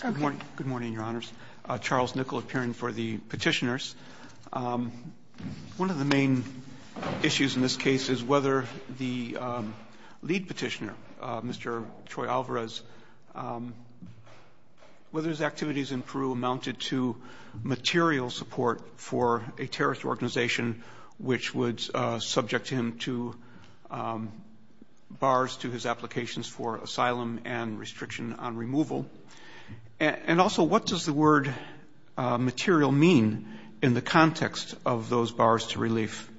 Good morning, your honors. Charles Nickel appearing for the petitioners. One of the main issues in this case is whether the lead petitioner, Mr. Choy-Alvarez, whether his activities in Peru amounted to material support for a terrorist organization which would subject him to bars to his applications for asylum and restriction on removal. And also, what does the word material mean in the context of those bars to relief?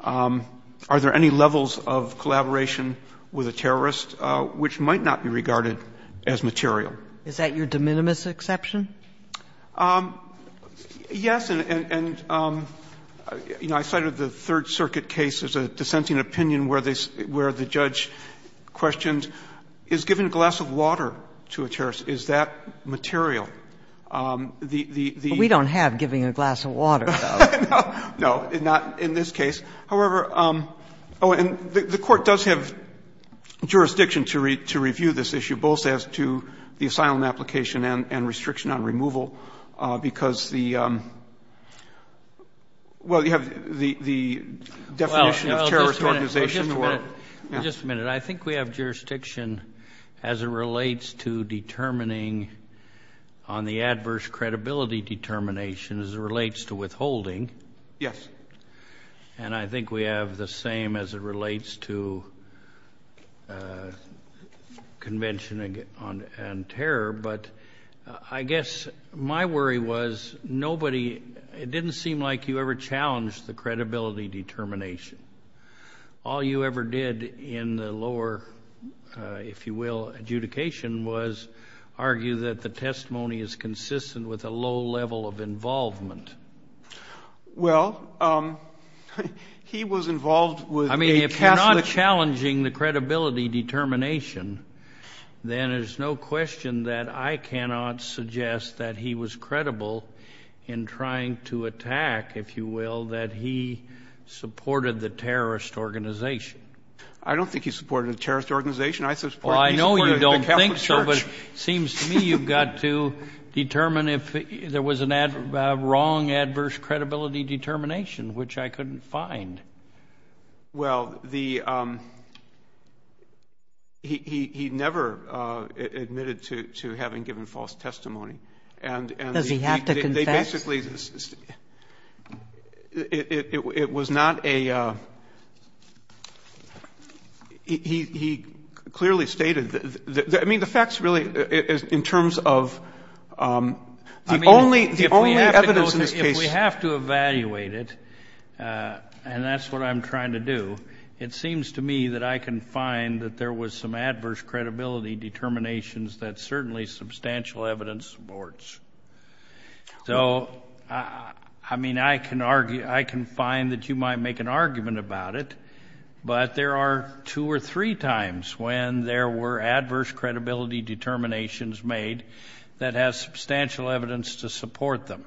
Are there any levels of collaboration with a terrorist which might not be regarded as material? Is that your de minimis exception? Yes, and, you know, I cited the Third Circuit case as a dissenting opinion where the judge questioned, is giving a glass of water to a terrorist, is that material? The, the, the We don't have giving a glass of water, though. No, not in this case. However, oh, and the Court does have jurisdiction to review this issue, both as to the because the, well, you have the definition of terrorist organization. Well, just a minute. Just a minute. I think we have jurisdiction as it relates to determining on the adverse credibility determination as it relates to withholding. Yes. And I think we have the same as it relates to convention and terror. But I guess my worry was nobody, it didn't seem like you ever challenged the credibility determination. All you ever did in the lower, if you will, adjudication was argue that the testimony is consistent with a low level of involvement. Well, he was involved with a Catholic. I mean, if you're not challenging the credibility determination, then there's no question that I cannot suggest that he was credible in trying to attack, if you will, that he supported the terrorist organization. I don't think he supported the terrorist organization. I support he supported the Catholic Church. Well, but it seems to me you've got to determine if there was a wrong adverse credibility determination, which I couldn't find. Well, he never admitted to having given false testimony. Does he have to confess? Basically, it was not a, he clearly stated, I mean, the facts really in terms of the only evidence in this case. If we have to evaluate it, and that's what I'm trying to do, it seems to me that I can find that there was some adverse credibility determinations that certainly substantial evidence supports. So, I mean, I can argue, I can find that you might make an argument about it, but there are two or three times when there were adverse credibility determinations made that has substantial evidence to support them.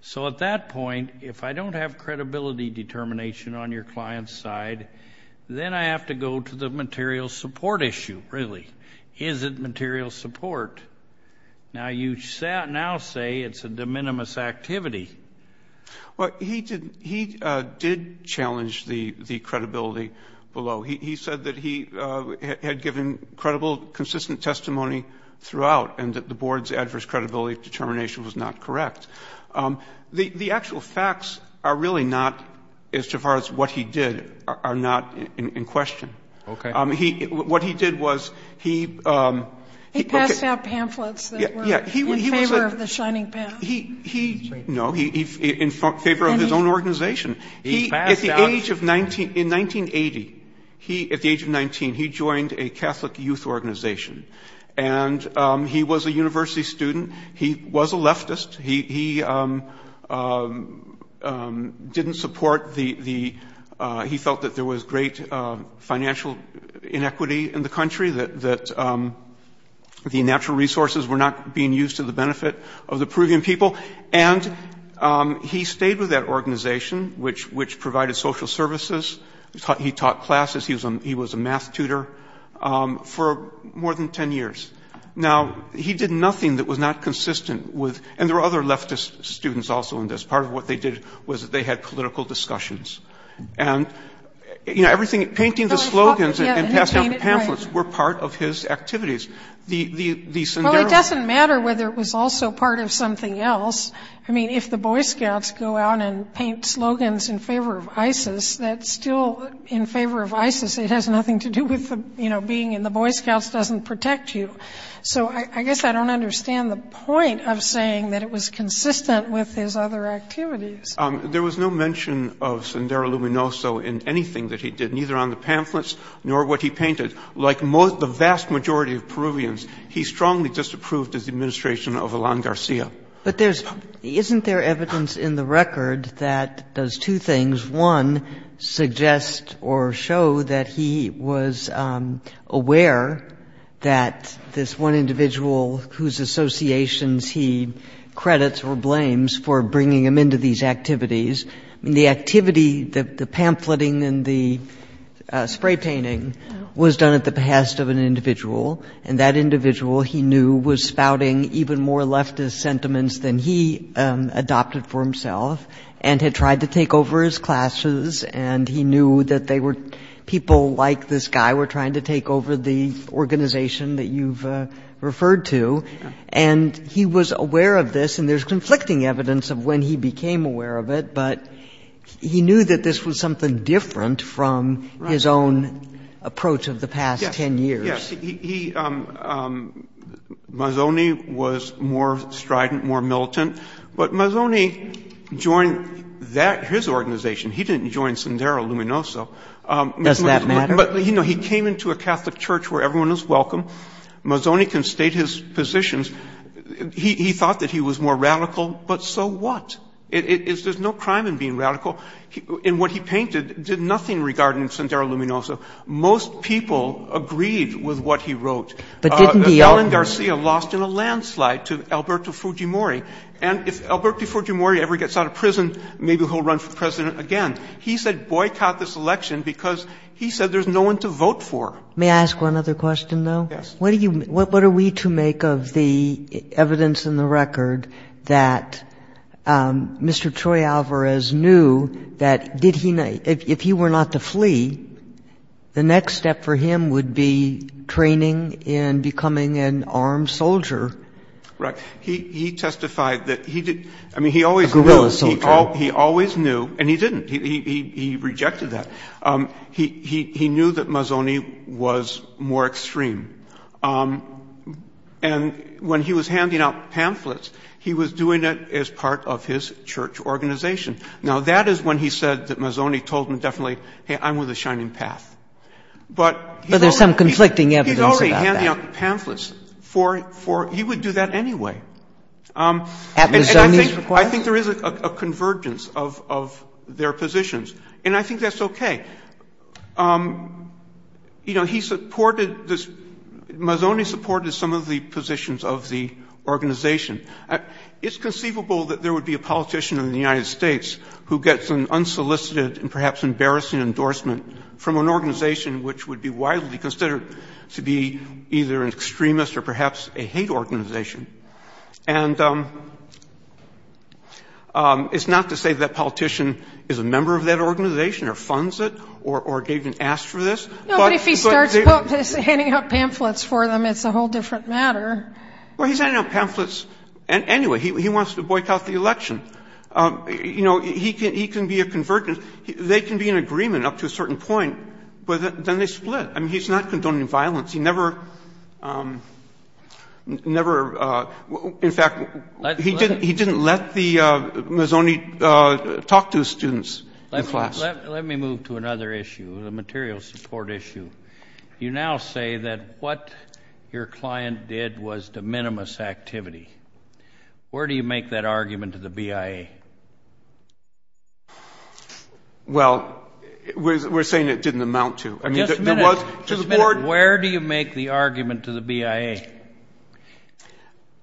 So at that point, if I don't have credibility determination on your client's side, then I have to go to the material support issue, really. Is it material support? Now you now say it's a de minimis activity. Well, he did challenge the credibility below. He said that he had given credible, consistent testimony throughout and that the board's adverse credibility determination was not correct. The actual facts are really not, as far as what he did, are not in question. Okay. What he did was he- He passed out pamphlets that were in favor of the Shining Path. No, in favor of his own organization. He passed out- In 1980, at the age of 19, he joined a Catholic youth organization, and he was a university student. He was a leftist. He didn't support the-he felt that there was great financial inequity in the country, that the natural resources were not being used to the benefit of the Peruvian people. And he stayed with that organization, which provided social services. He taught classes. He was a math tutor for more than 10 years. Now, he did nothing that was not consistent with- There were other leftist students also in this. Part of what they did was they had political discussions. And, you know, everything-painting the slogans and passing out the pamphlets were part of his activities. Well, it doesn't matter whether it was also part of something else. I mean, if the Boy Scouts go out and paint slogans in favor of ISIS, that's still in favor of ISIS. It has nothing to do with, you know, being in the Boy Scouts doesn't protect you. So I guess I don't understand the point of saying that it was consistent with his other activities. There was no mention of Sendero Luminoso in anything that he did, neither on the pamphlets nor what he painted. Like most-the vast majority of Peruvians, he strongly disapproved his administration of Elan Garcia. But there's-isn't there evidence in the record that does two things. One, suggest or show that he was aware that this one individual whose associations he credits or blames for bringing him into these activities. I mean, the activity-the pamphleting and the spray-painting was done at the behest of an individual. And that individual, he knew, was spouting even more leftist sentiments than he adopted for himself and had tried to take over his classes. And he knew that they were-people like this guy were trying to take over the organization that you've referred to. And he was aware of this, and there's conflicting evidence of when he became aware of it, but he knew that this was something different from his own approach of the past ten years. Yes. He-Mazoni was more strident, more militant. But Mazoni joined that-his organization. He didn't join Sendero Luminoso. Does that matter? But, you know, he came into a Catholic church where everyone was welcome. Mazoni can state his positions. He thought that he was more radical, but so what? There's no crime in being radical. And what he painted did nothing regarding Sendero Luminoso. Most people agreed with what he wrote. But didn't the- Helen Garcia lost in a landslide to Alberto Fujimori. And if Alberto Fujimori ever gets out of prison, maybe he'll run for president again. He said boycott this election because he said there's no one to vote for. May I ask one other question, though? Yes. What do you-what are we to make of the evidence in the record that Mr. Troy Alvarez knew that did he-if he were not to flee, the next step for him would be training and becoming an armed soldier? Right. He testified that he did-I mean, he always- A guerrilla soldier. He always knew, and he didn't. He rejected that. He knew that Mazzoni was more extreme. And when he was handing out pamphlets, he was doing it as part of his church organization. Now, that is when he said that Mazzoni told him definitely, hey, I'm with the Shining Path. But he's already- But there's some conflicting evidence about that. He's already handing out pamphlets for-he would do that anyway. At Mazzoni's request? I think there is a convergence of their positions. And I think that's okay. You know, he supported this-Mazzoni supported some of the positions of the organization. It's conceivable that there would be a politician in the United States who gets an unsolicited and perhaps embarrassing endorsement from an organization which would be widely considered to be either an extremist or perhaps a hate organization. And it's not to say that politician is a member of that organization or funds it or gave an ask for this. No, but if he starts handing out pamphlets for them, it's a whole different matter. Well, he's handing out pamphlets anyway. He wants to boycott the election. You know, he can be a convergence. They can be in agreement up to a certain point, but then they split. I mean, he's not condoning violence. He never, in fact, he didn't let the Mazzoni talk to his students in class. Let me move to another issue, the material support issue. You now say that what your client did was de minimis activity. Where do you make that argument to the BIA? Well, we're saying it didn't amount to. Just a minute. Where do you make the argument to the BIA?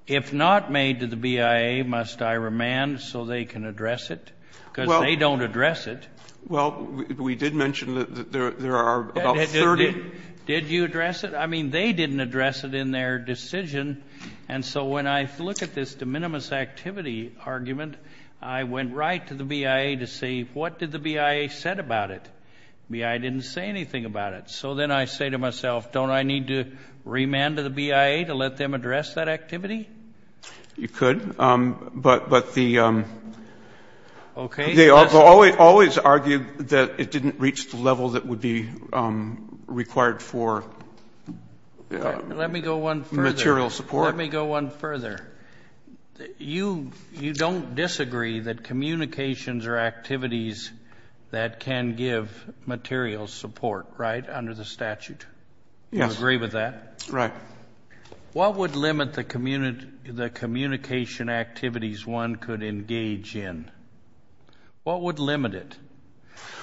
If not made to the BIA, must I remand so they can address it? Because they don't address it. Well, we did mention that there are about 30. Did you address it? I mean, they didn't address it in their decision. And so when I look at this de minimis activity argument, I went right to the BIA to say, what did the BIA say about it? BIA didn't say anything about it. So then I say to myself, don't I need to remand to the BIA to let them address that activity? You could, but they always argue that it didn't reach the level that would be required for material support. Let me go one further. You don't disagree that communications are activities that can give material support, right, under the statute? Yes. You agree with that? Right. What would limit the communication activities one could engage in? What would limit it?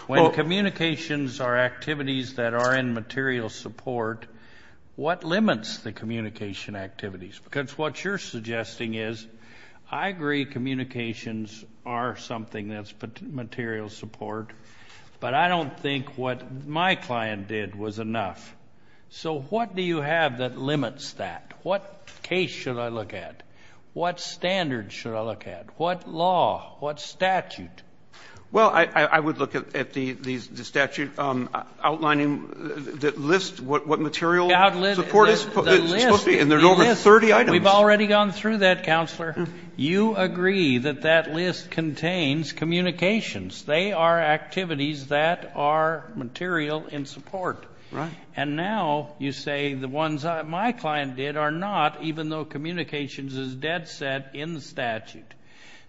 When communications are activities that are in material support, what limits the communication activities? Because what you're suggesting is, I agree communications are something that's material support, but I don't think what my client did was enough. So what do you have that limits that? What case should I look at? What standard should I look at? What law? What statute? Well, I would look at the statute outlining the list, what material support it's supposed to be. And there's over 30 items. We've already gone through that, Counselor. You agree that that list contains communications. They are activities that are material in support. Right. And now you say the ones my client did are not, even though communications is dead set in the statute.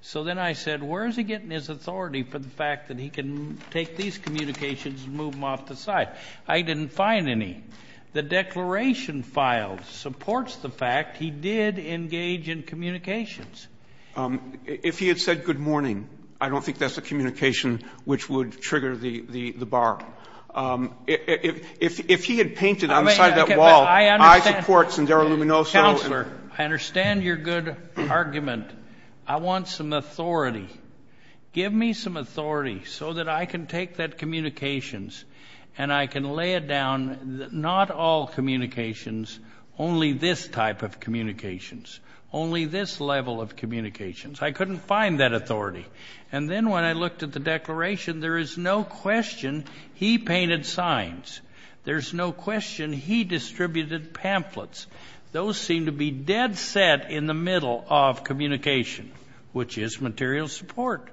So then I said, where is he getting his authority for the fact that he can take these communications and move them off the site? I didn't find any. The declaration file supports the fact he did engage in communications. If he had said good morning, I don't think that's a communication which would trigger the bar. If he had painted on the side of that wall, I support Sendero Luminoso. Counselor, I understand your good argument. I want some authority. Give me some authority so that I can take that communications and I can lay it down, not all communications, only this type of communications, only this level of communications. I couldn't find that authority. And then when I looked at the declaration, there is no question he painted signs. There's no question he distributed pamphlets. Those seem to be dead set in the middle of communication, which is material support.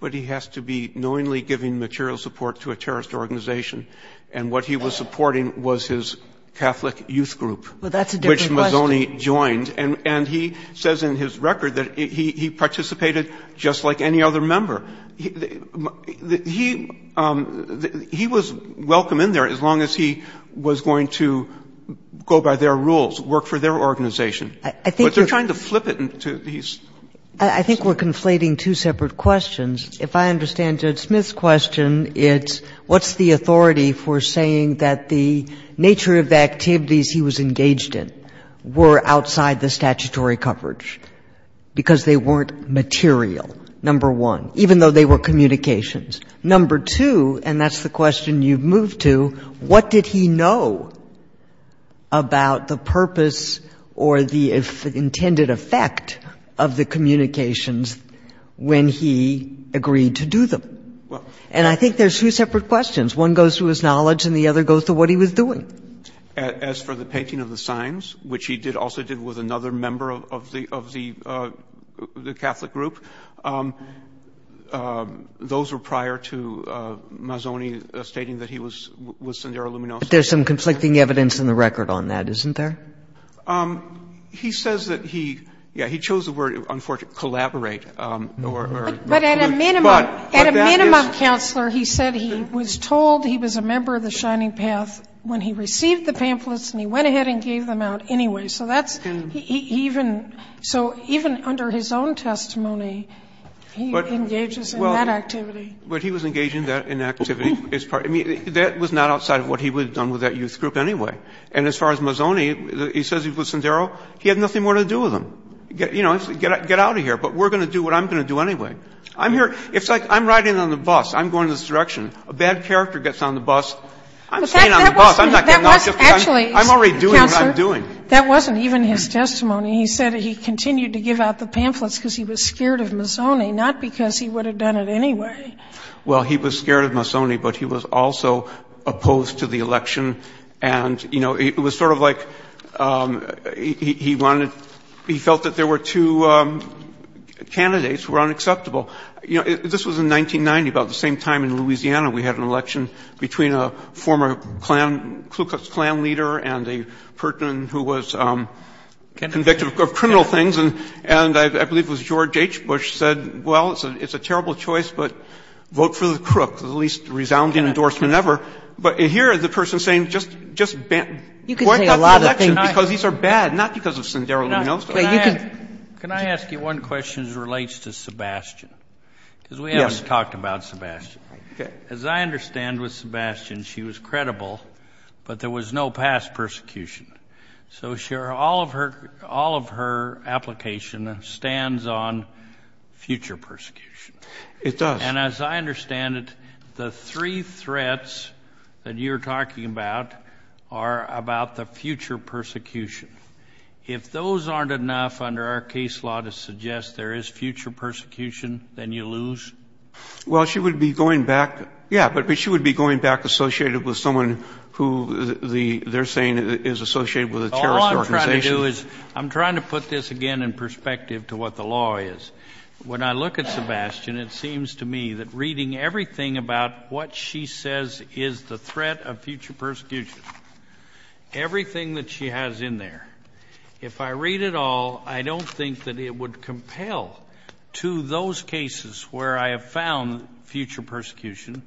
But he has to be knowingly giving material support to a terrorist organization. And what he was supporting was his Catholic youth group. Well, that's a different question. Which Mazzoni joined. And he says in his record that he participated just like any other member. He was welcome in there as long as he was going to go by their rules, work for their organization. But they're trying to flip it into these. I think we're conflating two separate questions. If I understand Judge Smith's question, it's what's the authority for saying that the nature of the activities he was engaged in were outside the statutory coverage because they weren't material, number one, even though they were communications. Number two, and that's the question you've moved to, what did he know about the purpose or the intended effect of the communications when he agreed to do them? And I think there's two separate questions. One goes to his knowledge and the other goes to what he was doing. As for the painting of the signs, which he also did with another member of the Catholic group, those were prior to Mazzoni stating that he was Sendero Luminoso. But there's some conflicting evidence in the record on that, isn't there? He says that he, yeah, he chose the word, unfortunately, collaborate. But at a minimum, counselor, he said he was told he was a member of the Shining Path when he received the pamphlets and he went ahead and gave them out anyway. So that's, he even, so even under his own testimony, he engages in that activity. But he was engaged in that activity. I mean, that was not outside of what he would have done with that youth group anyway. And as far as Mazzoni, he says he was Sendero, he had nothing more to do with them. You know, get out of here, but we're going to do what I'm going to do anyway. I'm here, it's like I'm riding on the bus, I'm going this direction. A bad character gets on the bus, I'm staying on the bus. I'm not getting off the bus. I'm already doing what I'm doing. Sotomayor, that wasn't even his testimony. He said he continued to give out the pamphlets because he was scared of Mazzoni, not because he would have done it anyway. Well, he was scared of Mazzoni, but he was also opposed to the election. And, you know, it was sort of like he wanted, he felt that there were two candidates who were unacceptable. You know, this was in 1990, about the same time in Louisiana we had an election between a former Klu Klux Klan leader and a person who was convicted of criminal things, and I believe it was George H. Bush said, well, it's a terrible choice, but vote for the crook, the least resounding endorsement ever. But here the person is saying just boycott the election because these are bad, not because of Sendero or anything else. Can I ask you one question as it relates to Sebastian? Yes. Because we haven't talked about Sebastian. As I understand with Sebastian, she was credible, but there was no past persecution. So all of her application stands on future persecution. It does. And as I understand it, the three threats that you're talking about are about the future persecution. If those aren't enough under our case law to suggest there is future persecution, then you lose? Well, she would be going back, yeah, but she would be going back associated with someone who they're saying is associated with a terrorist organization. All I'm trying to do is, I'm trying to put this again in perspective to what the law is. When I look at Sebastian, it seems to me that reading everything about what she says is the threat of future persecution, everything that she has in there, if I read it all, I don't think that it would compel to those cases where I have found future persecution.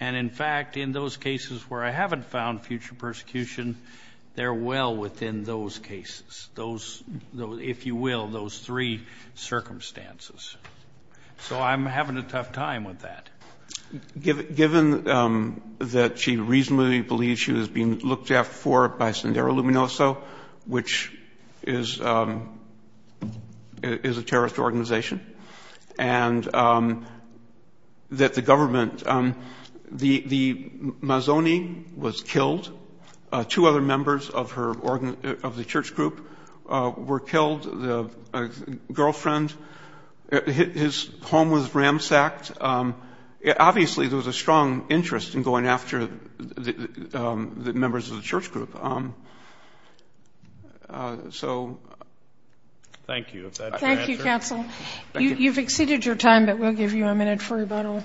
And, in fact, in those cases where I haven't found future persecution, they're well within those cases, those, if you will, those three circumstances. So I'm having a tough time with that. Given that she reasonably believes she was being looked after for by Sendero Luminoso, which is a terrorist organization, and that the government, the Mazoni was killed, two other members of the church group were killed, the girlfriend, his home was ransacked. Obviously, there was a strong interest in going after the members of the church group. So... Thank you. Is that your answer? Thank you, counsel. You've exceeded your time, but we'll give you a minute for rebuttal.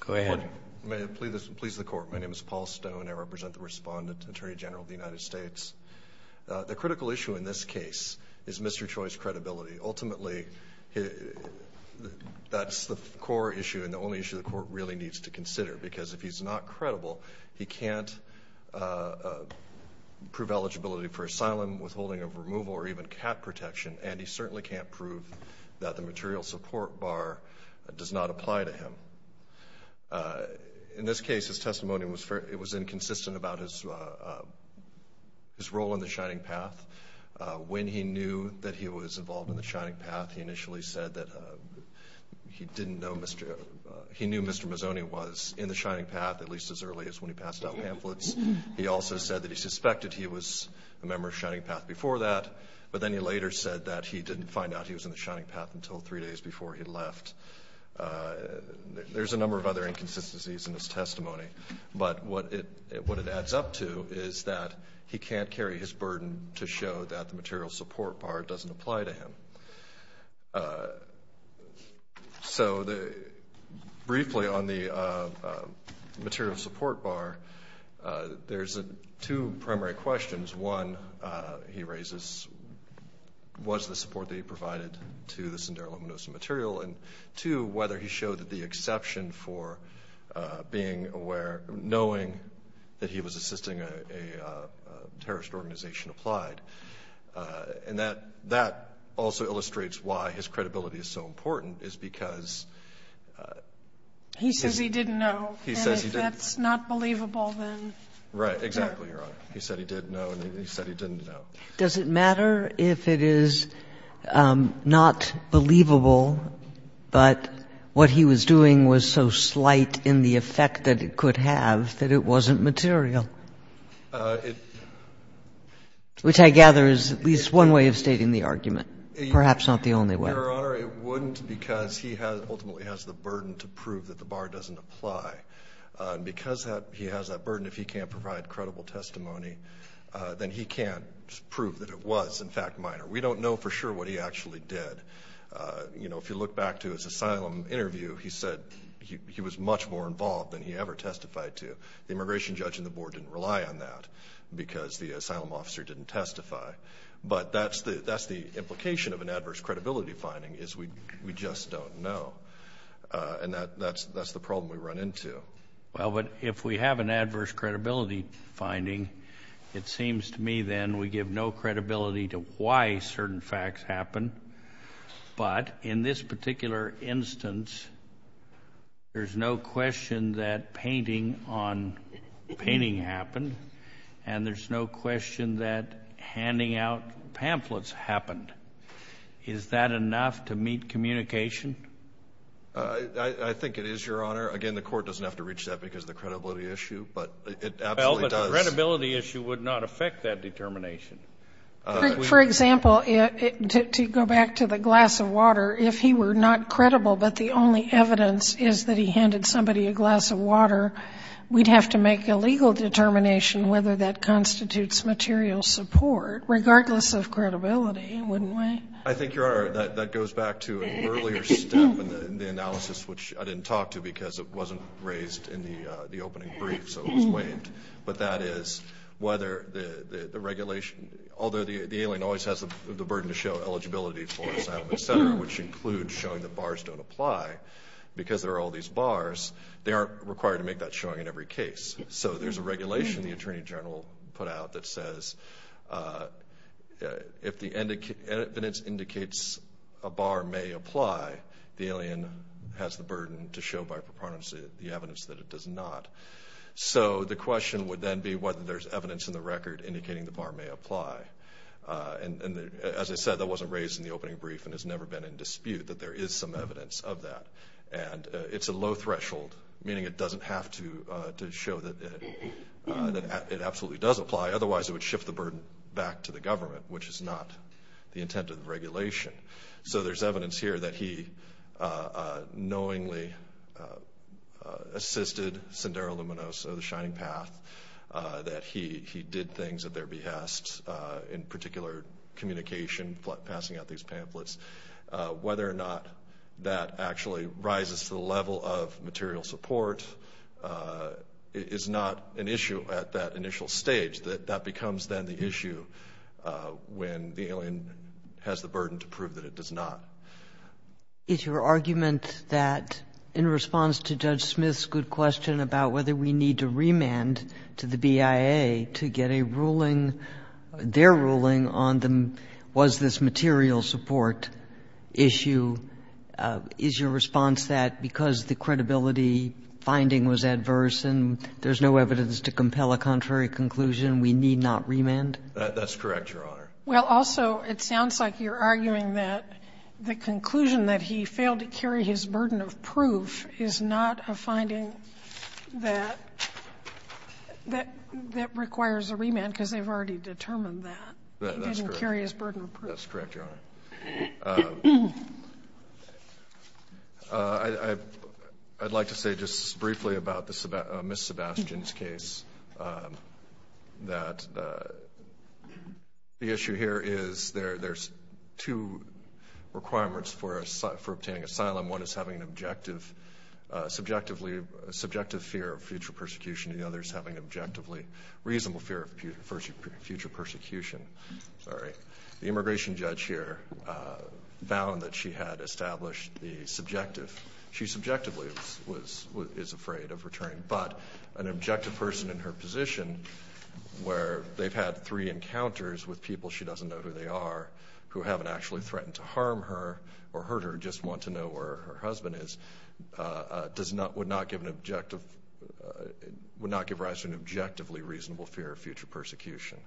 Go ahead. May it please the court. My name is Paul Stone. I represent the respondent, Attorney General of the United States. The critical issue in this case is Mr. Choi's credibility. Ultimately, that's the core issue and the only issue the court really needs to consider because if he's not credible, he can't prove eligibility for asylum, withholding of removal, or even cat protection, and he certainly can't prove that the material support bar does not apply to him. In this case, his testimony was inconsistent about his role in the Shining Path. When he knew that he was involved in the Shining Path, he initially said that he didn't know he knew Mr. Mazzoni was in the Shining Path, at least as early as when he passed out pamphlets. He also said that he suspected he was a member of Shining Path before that, but then he later said that he didn't find out he was in the Shining Path until three days before he left. There's a number of other inconsistencies in his testimony, but what it adds up to is that he can't carry his burden to show that the material support bar doesn't apply to him. Briefly, on the material support bar, there's two primary questions. One, he raises was the support that he provided to the Sindaro-Luminosa material, and two, whether he showed the exception for knowing that he was assisting a terrorist organization applied. And that also illustrates why his credibility is so important, is because he says he didn't know. And if that's not believable, then no. Right. Exactly, Your Honor. He said he didn't know, and he said he didn't know. Does it matter if it is not believable, but what he was doing was so slight in the effect that it could have that it wasn't material? Which I gather is at least one way of stating the argument, perhaps not the only way. Your Honor, it wouldn't because he ultimately has the burden to prove that the bar doesn't apply. And because he has that burden, if he can't provide credible testimony, then he can't prove that it was, in fact, minor. We don't know for sure what he actually did. You know, if you look back to his asylum interview, he said he was much more involved than he ever testified to. The immigration judge and the board didn't rely on that because the asylum officer didn't testify. But that's the implication of an adverse credibility finding, is we just don't know. And that's the problem we run into. Well, but if we have an adverse credibility finding, it seems to me then we give no credibility to why certain facts happen. But in this particular instance, there's no question that painting on painting happened, and there's no question that handing out pamphlets happened. Is that enough to meet communication? I think it is, Your Honor. Again, the court doesn't have to reach that because of the credibility issue, but it absolutely does. Well, but the credibility issue would not affect that determination. For example, to go back to the glass of water, if he were not credible but the only evidence is that he handed somebody a glass of water, we'd have to make a legal determination whether that constitutes material support, regardless of credibility, wouldn't we? I think, Your Honor, that goes back to an earlier step in the analysis, which I didn't talk to because it wasn't raised in the opening brief, so it was waived. But that is whether the regulation, although the alien always has the burden to show eligibility for asylum, et cetera, which includes showing that bars don't apply because there are all these bars, they aren't required to make that showing in every case. So there's a regulation the Attorney General put out that says if the evidence indicates a bar may apply, the alien has the burden to show by preponderance the evidence that it does not. So the question would then be whether there's evidence in the record indicating the bar may apply. And as I said, that wasn't raised in the opening brief and has never been in dispute that there is some evidence of that. And it's a low threshold, meaning it doesn't have to show that it absolutely does apply, otherwise it would shift the burden back to the government, which is not the intent of the regulation. So there's evidence here that he knowingly assisted Sendero Luminoso, the Shining Path, that he did things at their behest, in particular communication, passing out these pamphlets. Whether or not that actually rises to the level of material support is not an issue at that initial stage. That becomes then the issue when the alien has the burden to prove that it does not. Is your argument that in response to Judge Smith's good question about whether we need to remand to the BIA to get a ruling, their ruling, on was this material support issue, is your response that because the credibility finding was adverse and there's no evidence to compel a contrary conclusion, we need not remand? That's correct, Your Honor. Well, also, it sounds like you're arguing that the conclusion that he failed to carry his burden of proof is not a finding that requires a remand because they've already determined that. That's correct. He didn't carry his burden of proof. That's correct, Your Honor. I'd like to say just briefly about Ms. Sebastian's case, that the issue here is there's two requirements for obtaining asylum. One is having a subjective fear of future persecution, and the other is having a reasonable fear of future persecution. The immigration judge here found that she had established the subjective. She subjectively is afraid of returning, but an objective person in her position where they've had three encounters with people she doesn't know who they are, who haven't actually threatened to harm her or hurt her, just want to know where her husband is, would not give rise to an objectively reasonable fear of future persecution.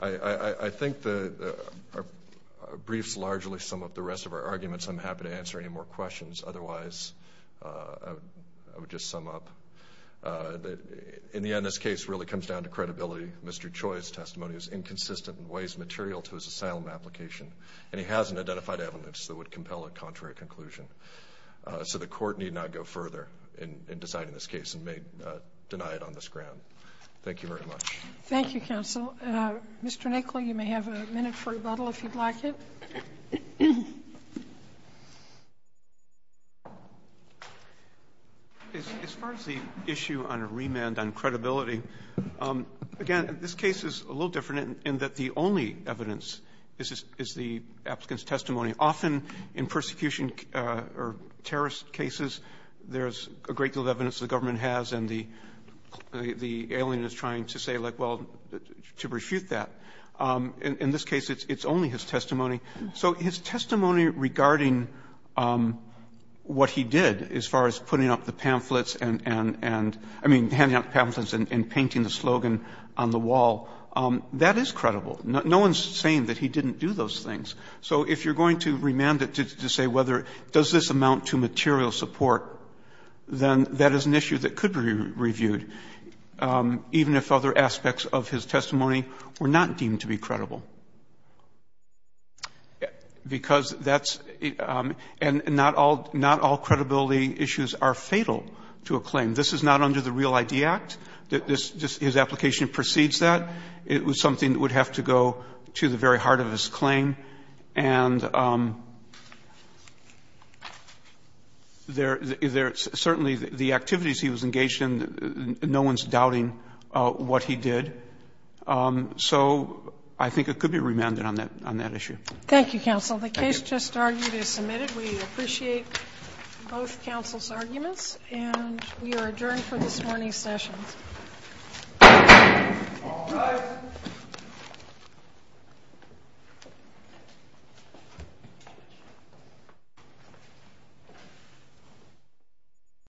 I think our briefs largely sum up the rest of our arguments. I'm happy to answer any more questions. Otherwise, I would just sum up. In the end, this case really comes down to credibility. Mr. Choi's testimony is inconsistent and weighs material to his asylum application, and he hasn't identified evidence that would compel a contrary conclusion. So the Court need not go further in deciding this case and may deny it on this ground. Thank you very much. Thank you, counsel. Mr. Nichol, you may have a minute for rebuttal if you'd like it. As far as the issue on a remand on credibility, again, this case is a little different in that the only evidence is the applicant's testimony. Often in persecution or terrorist cases, there's a great deal of evidence the government has, and the alien is trying to say, like, well, to refute that. In this case, it's only his testimony. So his testimony regarding what he did as far as putting up the pamphlets and, I mean, that is credible. No one's saying that he didn't do those things. So if you're going to remand it to say whether does this amount to material support, then that is an issue that could be reviewed, even if other aspects of his testimony were not deemed to be credible, because that's — and not all credibility issues are fatal to a claim. This is not under the Real ID Act. His application precedes that. It was something that would have to go to the very heart of his claim. And there — certainly the activities he was engaged in, no one's doubting what he did. So I think it could be remanded on that issue. Thank you, counsel. The case just argued is submitted. We appreciate both counsel's arguments. And we are adjourned for this morning's session. All rise.